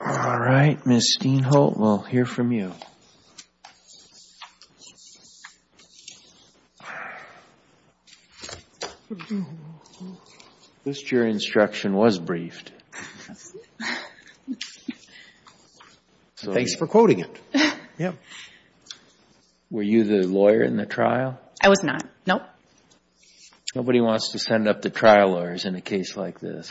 All right, Ms. Steenholt, we'll hear from you. At least your instruction was briefed. Thanks for quoting it. Were you the lawyer in the trial? I was not, no. Nobody wants to send up the trial lawyers in a case like this.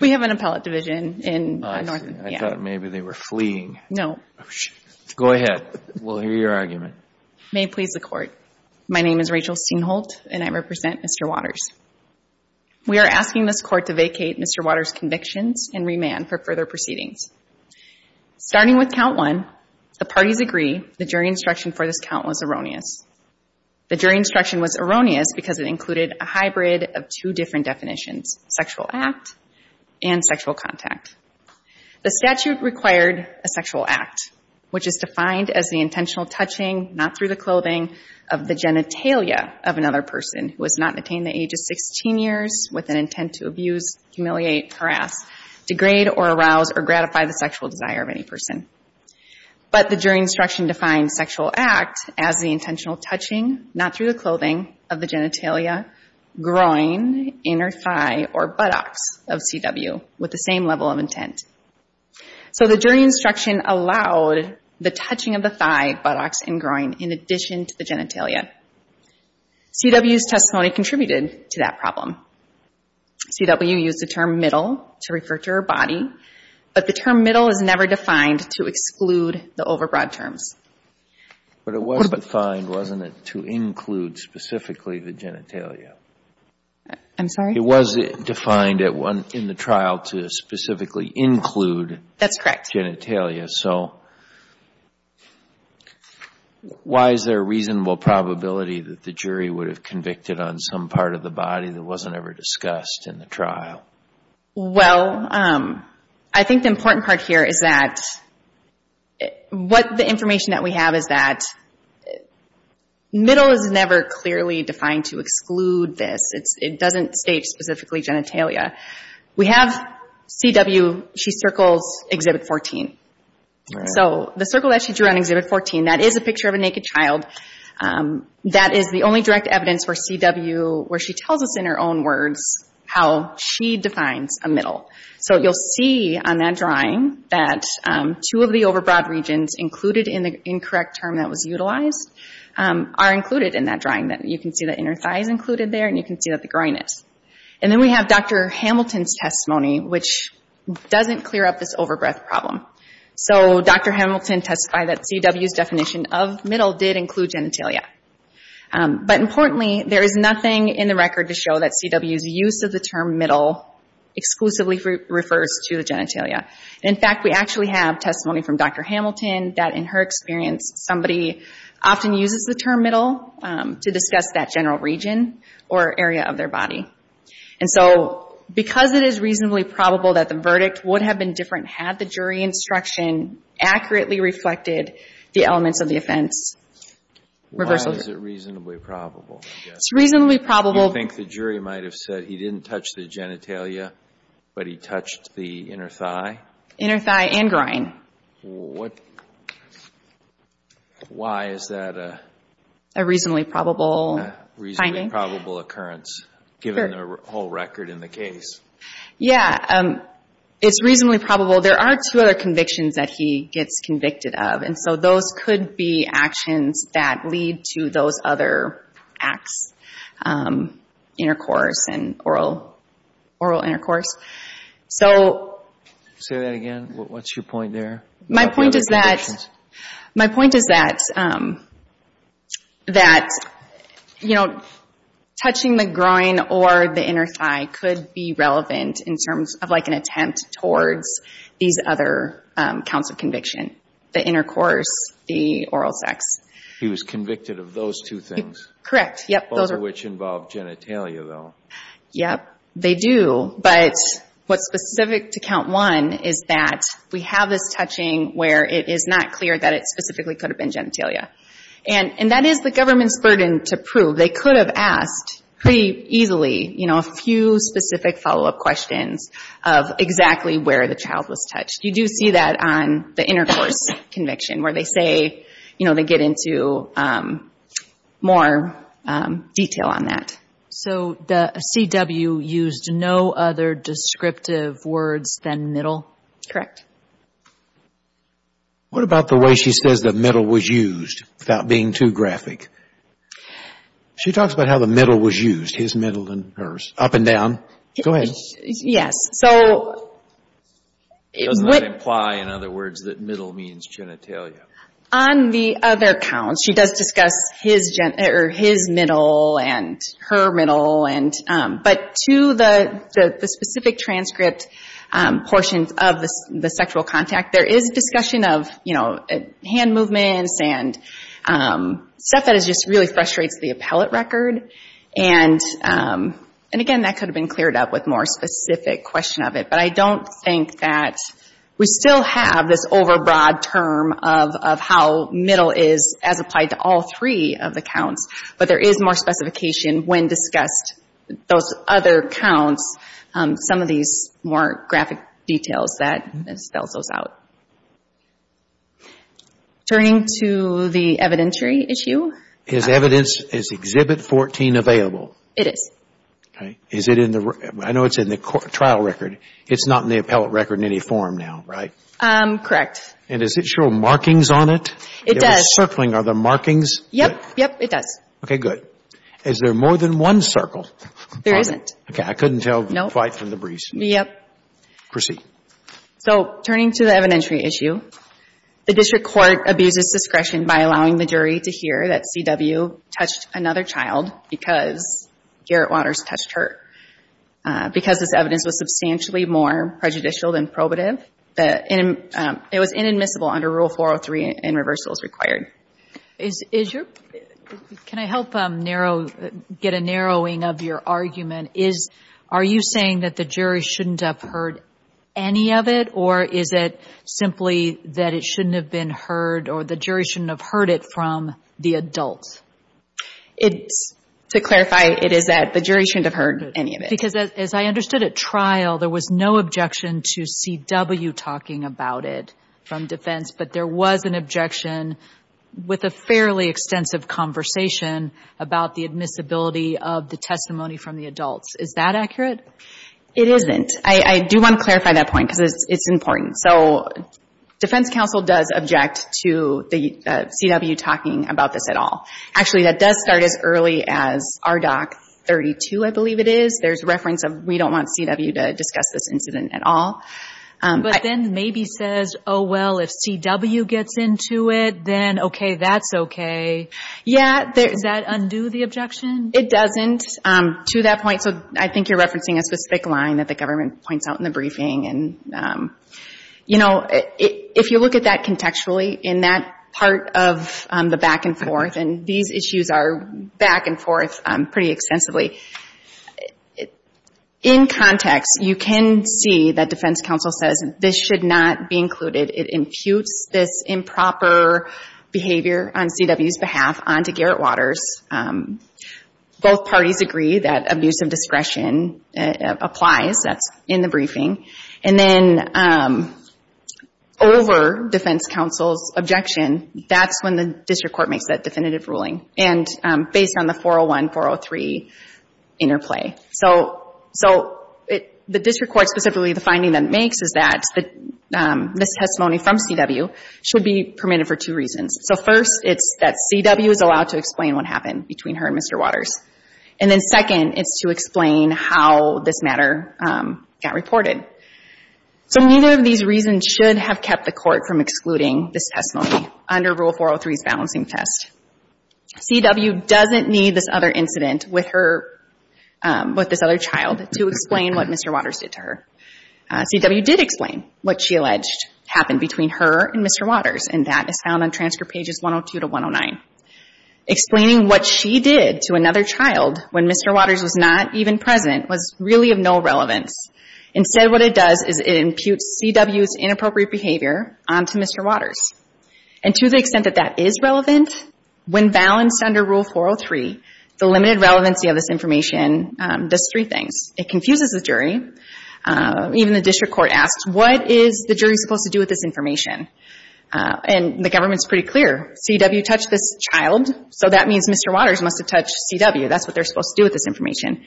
We have an appellate division in Northern. I thought maybe they were fleeing. No. Go ahead. We'll hear your argument. May it please the court. My name is Rachel Steenholt, and I represent Mr. Waters. We are asking this court to vacate Mr. Waters' convictions and remand for further proceedings. Starting with count one, the parties agree the jury instruction for this count was erroneous. The jury instruction was erroneous because it included a hybrid of two different definitions, sexual act and sexual contact. The statute required a sexual act, which is defined as the intentional touching, not through the clothing, of the genitalia of another person who has not attained the age of 16 years with an intent to abuse, humiliate, harass, degrade, or arouse or gratify the sexual desire of any person. But the jury instruction defined sexual act as the intentional touching, not through the clothing, of the genitalia, groin, inner thigh, or buttocks of CW with the same level of intent. So the jury instruction allowed the touching of the thigh, buttocks, and groin in addition to the genitalia. CW's testimony contributed to that problem. CW used the term middle to refer to her body, but the term middle is never defined to exclude the overbroad terms. But it was defined, wasn't it, to include specifically the genitalia? I'm sorry? It was defined in the trial to specifically include That's correct. Genitalia, so why is there a reasonable probability that the jury would have convicted on some part of the body that wasn't ever discussed in the trial? Well, I think the important part here is that what the information that we have is that middle is never clearly defined to exclude this. It doesn't state specifically genitalia. We have CW, she circles Exhibit 14. So the circle that she drew on Exhibit 14, that is a picture of a naked child. That is the only direct evidence where CW, where she tells us in her own words how she defines a middle. So you'll see on that drawing that two of the overbroad regions included in the incorrect term that was utilized are included in that drawing. You can see the inner thighs included there and you can see that the groin is. And then we have Dr. Hamilton's testimony which doesn't clear up this overbreath problem. So Dr. Hamilton testified that CW's definition of middle did include genitalia. But importantly, there is nothing in the record to show that CW's use of the term middle exclusively refers to the genitalia. In fact, we actually have testimony from Dr. Hamilton that in her experience, somebody often uses the term middle to discuss that general region or area of their body. And so because it is reasonably probable that the verdict would have been different had the jury instruction accurately reflected the elements of the offense. Reversal. Why is it reasonably probable? It's reasonably probable. Do you think the jury might have said that he didn't touch the genitalia but he touched the inner thigh? Inner thigh and groin. What? Why is that a? A reasonably probable finding. A reasonably probable occurrence given the whole record in the case. Yeah, it's reasonably probable. There are two other convictions that he gets convicted of. And so those could be actions that lead to those other acts. Intercourse and oral intercourse. So. Say that again. What's your point there? My point is that, my point is that, that, you know, touching the groin or the inner thigh could be relevant in terms of like an attempt towards these other counts of conviction. The intercourse, the oral sex. He was convicted of those two things. Correct, yep. Both of which involve genitalia though. Yep, they do. But what's specific to count one is that we have this touching where it is not clear that it specifically could have been genitalia. And that is the government's burden to prove. They could have asked pretty easily, you know, a few specific follow-up questions of exactly where the child was touched. You do see that on the intercourse conviction where they say, you know, they get into more detail on that. So the CW used no other descriptive words than middle? Correct. What about the way she says the middle was used without being too graphic? She talks about how the middle was used. His middle and hers. Up and down. Go ahead. Yes, so. It does not imply, in other words, that middle means genitalia. On the other count, she does discuss his middle and her middle. But to the specific transcript portion of the sexual contact, there is discussion of hand movements and stuff that just really frustrates the appellate record. And again, that could have been cleared up with more specific question of it. But I don't think that we still have this overbroad term of how middle is as applied to all three of the counts. But there is more specification when discussed those other counts. Some of these more graphic details that spells those out. Turning to the evidentiary issue. Is evidence, is Exhibit 14 available? It is. Is it in the, I know it's in the trial record. It's not in the appellate record in any form now, right? Correct. And does it show markings on it? It does. Circling, are there markings? Yep, yep, it does. Okay, good. Is there more than one circle? There isn't. Okay, I couldn't tell quite from the briefs. Yep. Proceed. So, turning to the evidentiary issue. The district court abuses discretion by allowing the jury to hear that CW touched another child because Garrett Waters touched her. Because this evidence was substantially more prejudicial than probative, it was inadmissible under Rule 403 and reversal is required. Can I help narrow, get a narrowing of your argument? Are you saying that the jury shouldn't have heard any of it or is it simply that it shouldn't have been heard or the jury shouldn't have heard it from the adult? To clarify, it is that the jury shouldn't have heard any of it. Because as I understood at trial, there was no objection to CW talking about it from defense, but there was an objection with a fairly extensive conversation about the admissibility of the testimony from the adults. Is that accurate? It isn't. I do want to clarify that point because it's important. So, defense counsel does object to the CW talking about this at all. Actually, that does start as early as RDoC 32, I believe it is. There's reference of, we don't want CW to discuss this incident at all. But then maybe says, oh, well, if CW gets into it, then okay, that's okay. Yeah. Does that undo the objection? It doesn't to that point. So, I think you're referencing a specific line that the government points out in the briefing. And, you know, if you look at that contextually in that part of the back and forth, and these issues are back and forth pretty extensively, in context, you can see that defense counsel says this should not be included. It imputes this improper behavior on CW's behalf onto Garrett Waters. Both parties agree that abuse of discretion applies. That's in the briefing. And then over defense counsel's objection, that's when the district court makes that definitive ruling. And based on the 401, 403 interplay. So, the district court specifically, the finding that it makes is that this testimony from CW should be permitted for two reasons. So first, it's that CW is allowed to explain what happened between her and Mr. Waters. And then second, it's to explain how this matter got reported. So neither of these reasons should have kept the court from excluding this testimony under Rule 403's balancing test. CW doesn't need this other incident with this other child to explain what Mr. Waters did to her. CW did explain what she alleged happened between her and Mr. Waters, and that is found on transcript pages 102 to 109. Explaining what she did to another child when Mr. Waters was not even present was really of no relevance. Instead, what it does is it imputes CW's inappropriate behavior onto Mr. Waters. And to the extent that that is relevant, when balanced under Rule 403, the limited relevancy of this information does three things. It confuses the jury. Even the district court asks, what is the jury supposed to do with this information? And the government's pretty clear. CW touched this child, so that means Mr. Waters must have touched CW. That's what they're supposed to do with this information.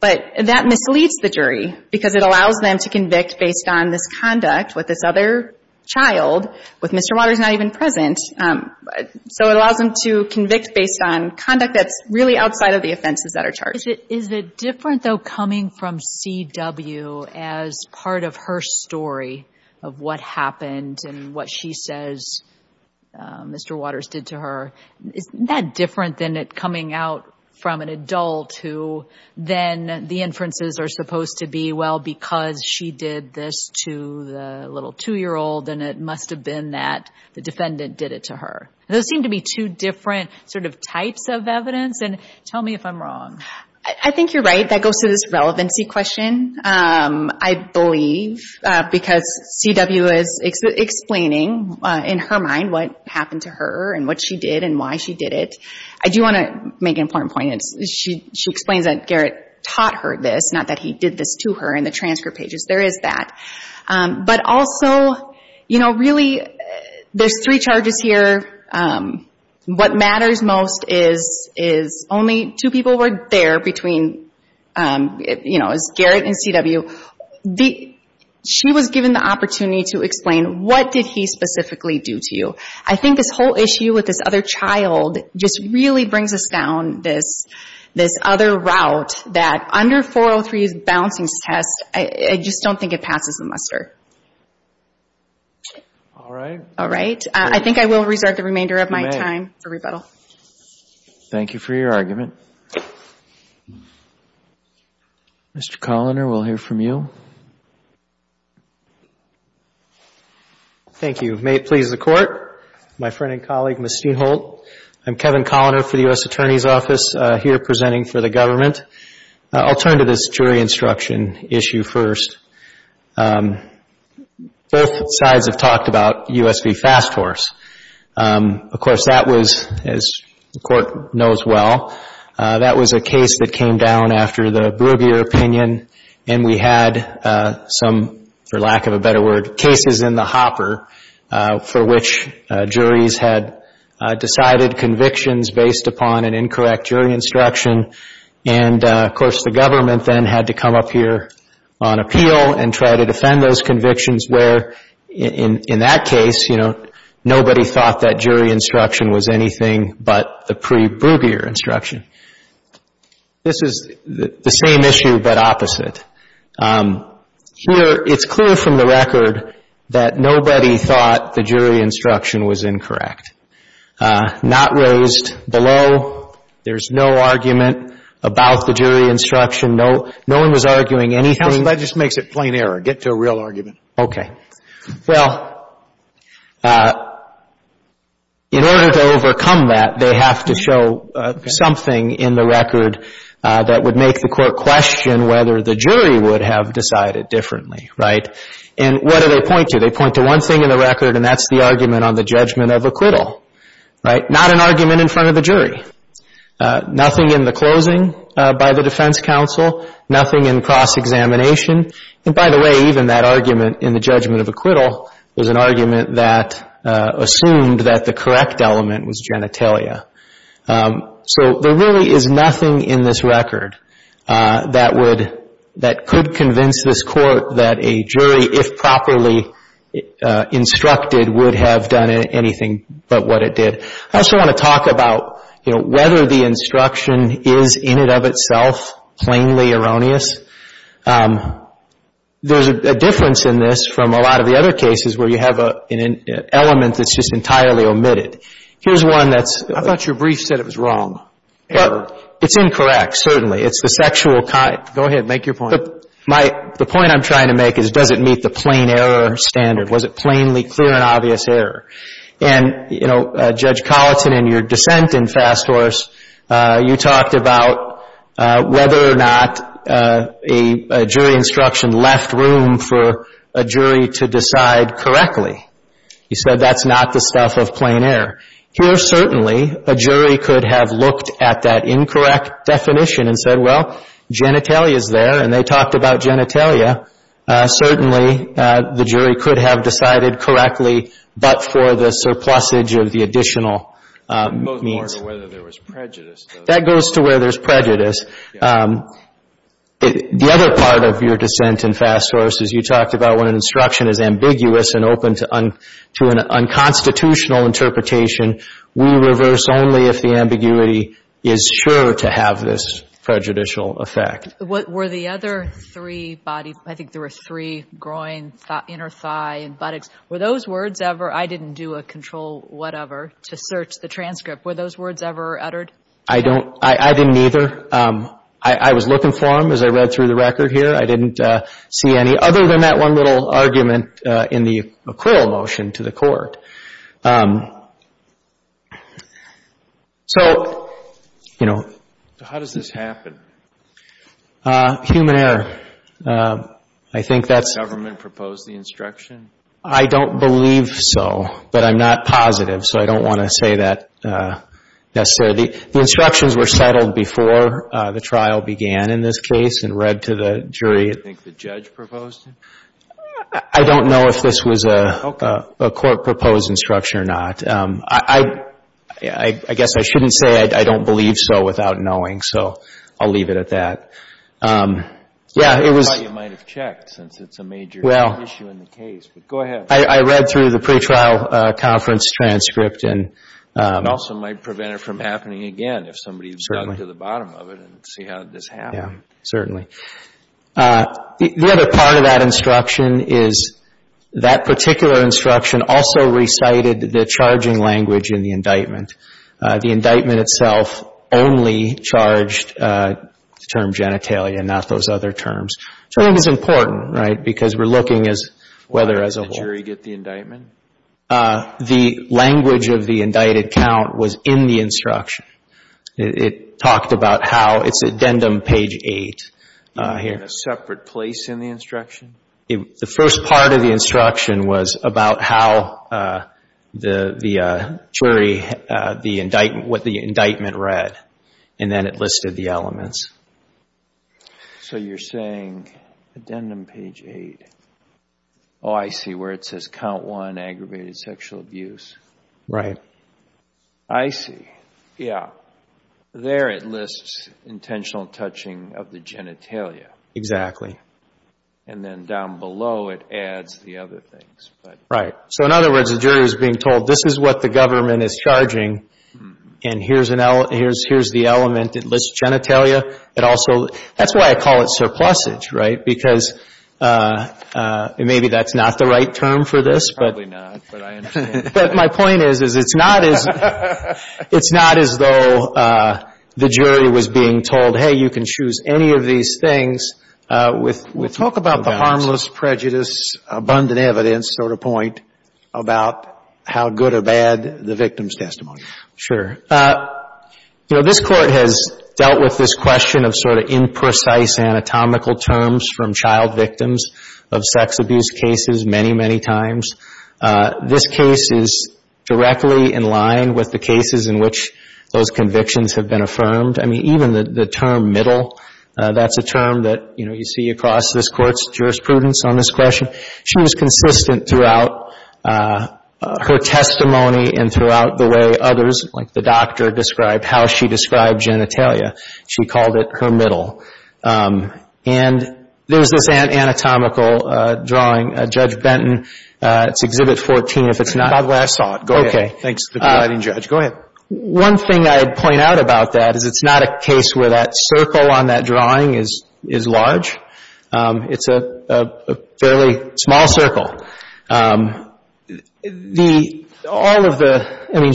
But that misleads the jury because it allows them to convict based on this conduct with this other child with Mr. Waters not even present. So it allows them to convict based on conduct that's really outside of the offenses that are charged. Is it different, though, coming from CW as part of her story of what happened and what she says Mr. Waters did to her? Isn't that different than it coming out from an adult who then the inferences are supposed to be, well, because she did this to the little two-year-old and it must have been that the defendant did it to her. Those seem to be two different types of evidence, and tell me if I'm wrong. I think you're right. That goes to this relevancy question, I believe, because CW is explaining in her mind what happened to her and what she did and why she did it. I do want to make an important point. She explains that Garrett taught her this, not that he did this to her in the transfer pages. There is that. But also, really, there's three charges here. What matters most is only two people were there between Garrett and CW. She was given the opportunity to explain what did he specifically do to you. I think this whole issue with this other child just really brings us down this other route that under 403's balancing test, I just don't think it passes the muster. All right. All right, I think I will reserve the remainder of my time for rebuttal. Thank you for your argument. Mr. Colliner, we'll hear from you. Thank you. May it please the Court, my friend and colleague, Ms. Steinholt. I'm Kevin Colliner for the U.S. Attorney's Office here presenting for the government. I'll turn to this jury instruction issue first. Both sides have talked about U.S. v. Fast Force. Of course, that was, as the Court knows well, that was a case that came down after the Brugier opinion and we had some, for lack of a better word, cases in the hopper for which juries had decided convictions based upon an incorrect jury instruction and, of course, the government then had to come up here on appeal and try to defend those convictions where, in that case, nobody thought that jury instruction was anything but the pre-Brugier instruction. This is the same issue, but opposite. Here, it's clear from the record that nobody thought the jury instruction was incorrect. Not raised below. There's no argument about the jury instruction. No one was arguing anything. That just makes it plain error. Get to a real argument. Okay. Well, in order to overcome that, they have to show something in the record that would make the Court question whether the jury would have decided differently, right? And what do they point to? They point to one thing in the record and that's the argument on the judgment of acquittal, right? Not an argument in front of the jury. Nothing in the closing by the defense counsel. Nothing in cross-examination. And by the way, even that argument in the judgment of acquittal was an argument that assumed that the correct element was genitalia. So there really is nothing in this record that could convince this Court that a jury, if properly instructed, would have done anything but what it did. I also want to talk about whether the instruction is in and of itself plainly erroneous. There's a difference in this from a lot of the other cases where you have an element that's just entirely omitted. Here's one that's- I thought your brief said it was wrong. It's incorrect, certainly. It's the sexual kind. Go ahead, make your point. The point I'm trying to make is does it meet the plain error standard? Was it plainly clear and obvious error? And, you know, Judge Colleton, in your dissent in Fast Horse, you talked about whether or not a jury instruction left room for a jury to decide correctly. You said that's not the stuff of plain error. Here, certainly, a jury could have looked at that incorrect definition and said, well, genitalia's there and they talked about genitalia. Certainly, the jury could have decided correctly but for the surplusage of the additional means. It's more to whether there was prejudice. That goes to where there's prejudice. The other part of your dissent in Fast Horse is you talked about when an instruction is ambiguous and open to an unconstitutional interpretation, we reverse only if the ambiguity is sure to have this prejudicial effect. Were the other three body, I think there were three, groin, inner thigh, and buttocks, were those words ever, I didn't do a control whatever to search the transcript, were those words ever uttered? I don't, I didn't either. I was looking for them as I read through the record here. I didn't see any other than that one little argument in the McQuill motion to the court. So, you know. So how does this happen? Human error. I think that's. The government proposed the instruction? I don't believe so but I'm not positive so I don't want to say that necessarily. The instructions were settled before the trial began in this case and read to the jury. You think the judge proposed it? I don't know if this was a court proposed instruction or not. I guess I shouldn't say I don't believe so without knowing so I'll leave it at that. Yeah, it was. I thought you might have checked since it's a major issue in the case. But go ahead. I read through the pretrial conference transcript and. It also might prevent it from happening again if somebody dug to the bottom of it and see how this happened. Yeah, certainly. The other part of that instruction is that particular instruction also recited the charging language in the indictment. The indictment itself only charged the term genitalia and not those other terms. Charging is important, right? Because we're looking as whether as a whole. Why did the jury get the indictment? The language of the indicted count was in the instruction. It talked about how, it's addendum page eight here. In a separate place in the instruction? The first part of the instruction was about how the jury, what the indictment read. And then it listed the elements. So you're saying addendum page eight. Oh, I see where it says count one, aggravated sexual abuse. Right. I see. Yeah. There it lists intentional touching of the genitalia. Exactly. And then down below it adds the other things. Right. So in other words, the jury was being told, this is what the government is charging. And here's the element. It lists genitalia. It also, that's why I call it surplusage, right? Because maybe that's not the right term for this. Probably not, but I understand. But my point is, is it's not as though the jury was being told, hey, you can choose any of these things with no bounds. Talk about the harmless prejudice, abundant evidence sort of point about how good or bad the victim's testimony. Sure. This court has dealt with this question of sort of imprecise anatomical terms from child victims of sex abuse cases many, many times. This case is directly in line with the cases in which those convictions have been affirmed. I mean, even the term middle, that's a term that you see across this court's jurisprudence on this question. She was consistent throughout her testimony and throughout the way others, like the doctor, described how she described genitalia. She called it her middle. And there's this anatomical drawing, Judge Benton, it's Exhibit 14, if it's not- By the way, I saw it. Go ahead. Okay. Thanks to the guiding judge. Go ahead. One thing I'd point out about that is it's not a case where that circle on that drawing is large. It's a fairly small circle. The, all of the, I mean,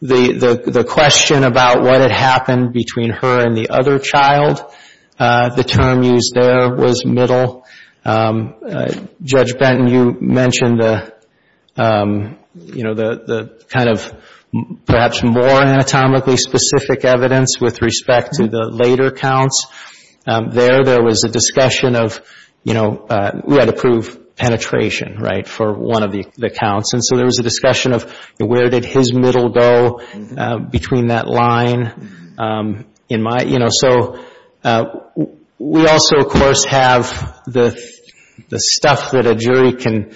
the question about what had happened between her and the other child, the term used there was middle. Judge Benton, you mentioned the, you know, the kind of perhaps more anatomically specific evidence with respect to the later counts. There, there was a discussion of, you know, we had to prove penetration, right, for one of the counts. And so there was a discussion of where did his middle go between that line in my, you know, so we also, of course, have the stuff that a jury can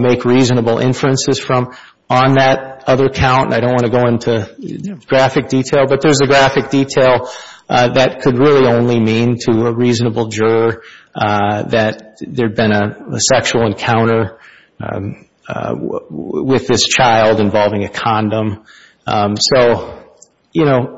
make reasonable inferences from on that other count. And I don't want to go into graphic detail, but there's a graphic detail that could really only mean to a reasonable juror that there'd been a sexual encounter with this child involving a condom. So, you know,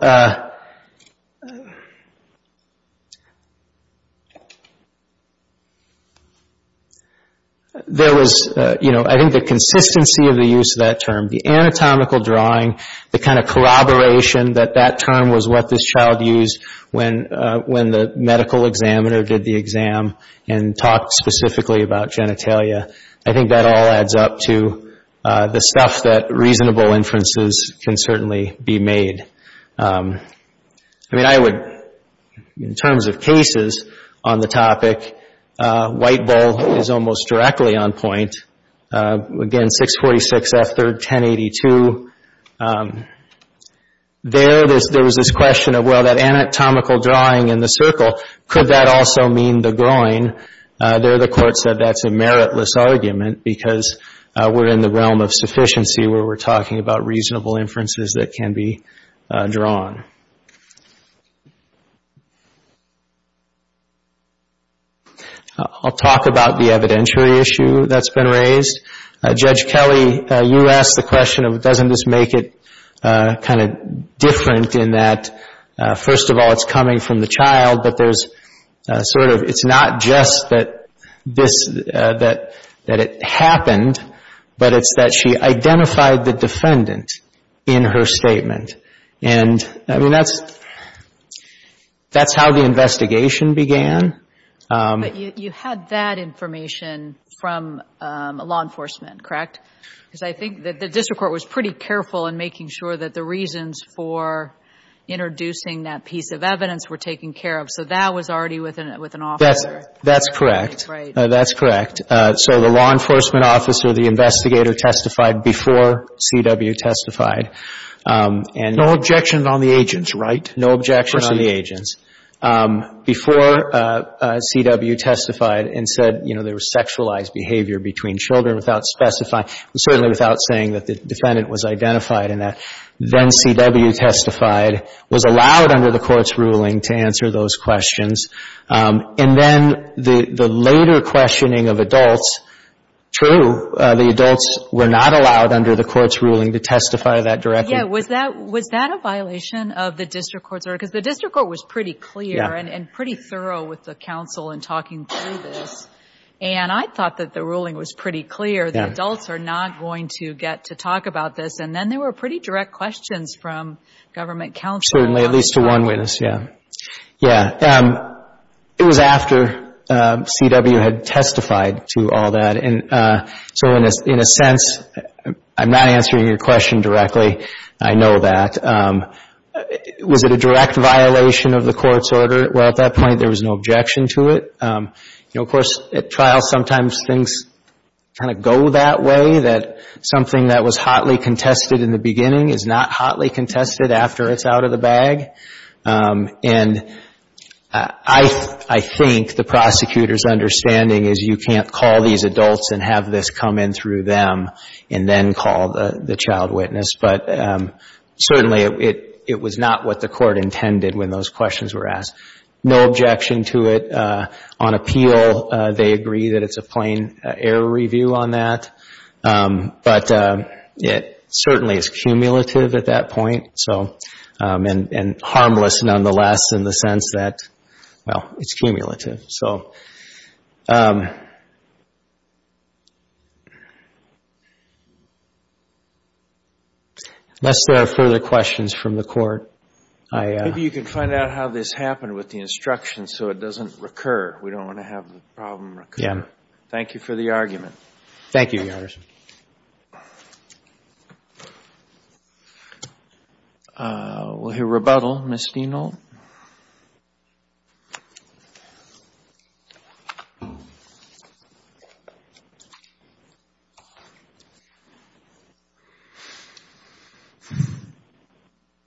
there was, you know, I think the consistency of the use of that term, the anatomical drawing, the kind of corroboration that that term was what this child used when the medical examiner did the exam and talked specifically about genitalia. I think that all adds up to the stuff that reasonable inferences can certainly be made. I mean, I would, in terms of cases on the topic, White Bull is almost directly on point. Again, 646F, third, 1082. There, there was this question of, well, that anatomical drawing in the circle, could that also mean the groin? There, the court said that's a meritless argument because we're in the realm of sufficiency where we're talking about reasonable inferences that can be drawn. I'll talk about the evidentiary issue that's been raised. Judge Kelly, you asked the question of doesn't this make it kind of different in that, first of all, it's coming from the child, but there's sort of, it's not just that this, that it happened, but it's that she identified the defendant in her statement. And I mean, that's how the investigation began. But you had that information from law enforcement, correct? Because I think that the district court was pretty careful in making sure that the reasons for introducing that piece of evidence were taken care of. So that was already with an officer. That's correct. That's correct. So the law enforcement officer, the investigator testified before C.W. testified. No objection on the agents, right? No objection on the agents. Before C.W. testified and said, you know, there was sexualized behavior between children without specifying, certainly without saying that the defendant was identified in that, then C.W. testified, was allowed under the court's ruling to answer those questions. And then the later questioning of adults, true, the adults were not allowed under the court's ruling to testify that directly. Yeah. Was that a violation of the district court's order? Because the district court was pretty clear and pretty thorough with the counsel in talking through this. And I thought that the ruling was pretty clear. The adults are not going to get to talk about this. And then there were pretty direct questions from government counsel. Certainly, at least to one witness, yeah. Yeah. It was after C.W. had testified to all that. And so in a sense, I'm not answering your question directly. I know that. Was it a direct violation of the court's order? Well, at that point, there was no objection to it. You know, of course, at trial, sometimes things kind of go that way, that something that was hotly contested in the beginning is not hotly contested after it's out of the bag. And I think the prosecutor's understanding is you can't call these adults and have this come in through them and then call the child witness. But certainly, it was not what the court intended when those questions were asked. No objection to it. On appeal, they agree that it's a plain error review on that. But it certainly is cumulative at that point. And harmless, nonetheless, in the sense that, well, it's cumulative. So unless there are further questions from the court, I am. Maybe you can find out how this happened with the instructions so it doesn't recur. We don't want to have the problem recur. Thank you for the argument. Thank you, Your Honor. We'll hear rebuttal. Ms. Dino? Thank you.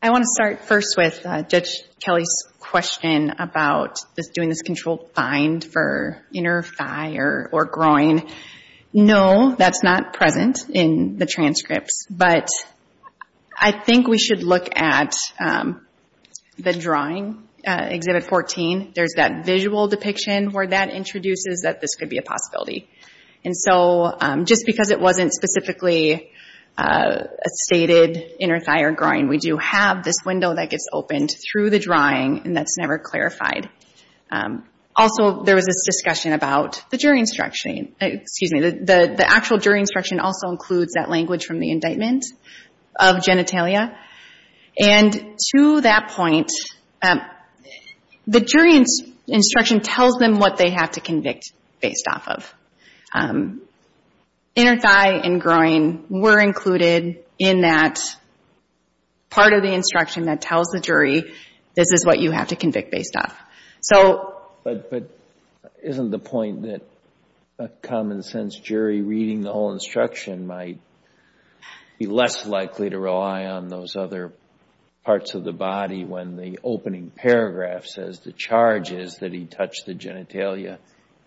I want to start first with Judge Kelly's question about doing this controlled find for inner thigh or groin. No, that's not present in the transcripts. But I think we should look at the drawing, Exhibit 14. There's that visual depiction where that introduces that this could be a possibility. And so just because it wasn't specifically a stated inner thigh or groin, we do have this window that gets opened through the drawing, and that's never clarified. Also, there was this discussion about the jury instruction. The actual jury instruction also includes that language from the indictment of genitalia. And to that point, the jury instruction tells them what they have to convict based off of. Inner thigh and groin were included in that part of the instruction that tells the jury this is what you have to convict based off. But isn't the point that a common sense jury reading the whole instruction might be less likely to rely on those other parts of the body when the opening paragraph says the charge is that he touched the genitalia,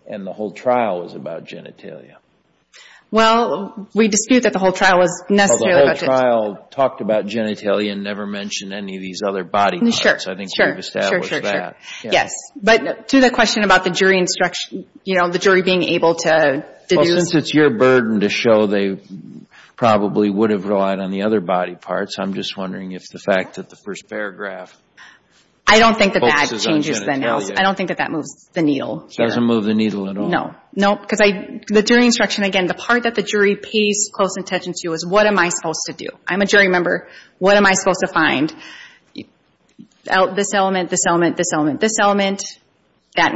and the whole trial was about genitalia? Well, we dispute that the whole trial was necessarily about genitalia. The whole trial talked about genitalia and never mentioned any of these other body parts. I think we've established that. Yes. But to the question about the jury being able to deduce. Well, since it's your burden to show, they probably would have relied on the other body parts. I'm just wondering if the fact that the first paragraph focuses on genitalia. I don't think that that changes the nails. I don't think that that moves the needle. It doesn't move the needle at all. No. No. Because the jury instruction, again, the part that the jury pays close attention to is what am I supposed to do? I'm a jury member. What am I supposed to find? This element, this element, this element, this element. One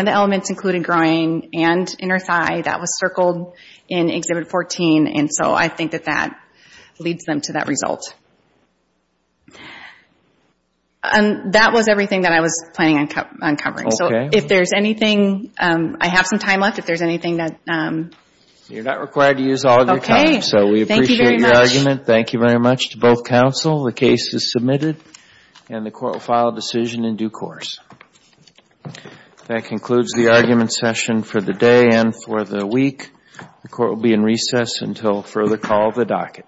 of the elements included groin and inner thigh. That was circled in Exhibit 14. And so I think that that leads them to that result. That was everything that I was planning on covering. So if there's anything, I have some time left. If there's anything that. You're not required to use all of your time. So we appreciate your argument. Thank you very much to both counsel. The case is submitted. And the court will file a decision in due course. That concludes the argument session for the day and for the week. The court will be in recess until further call of the docket.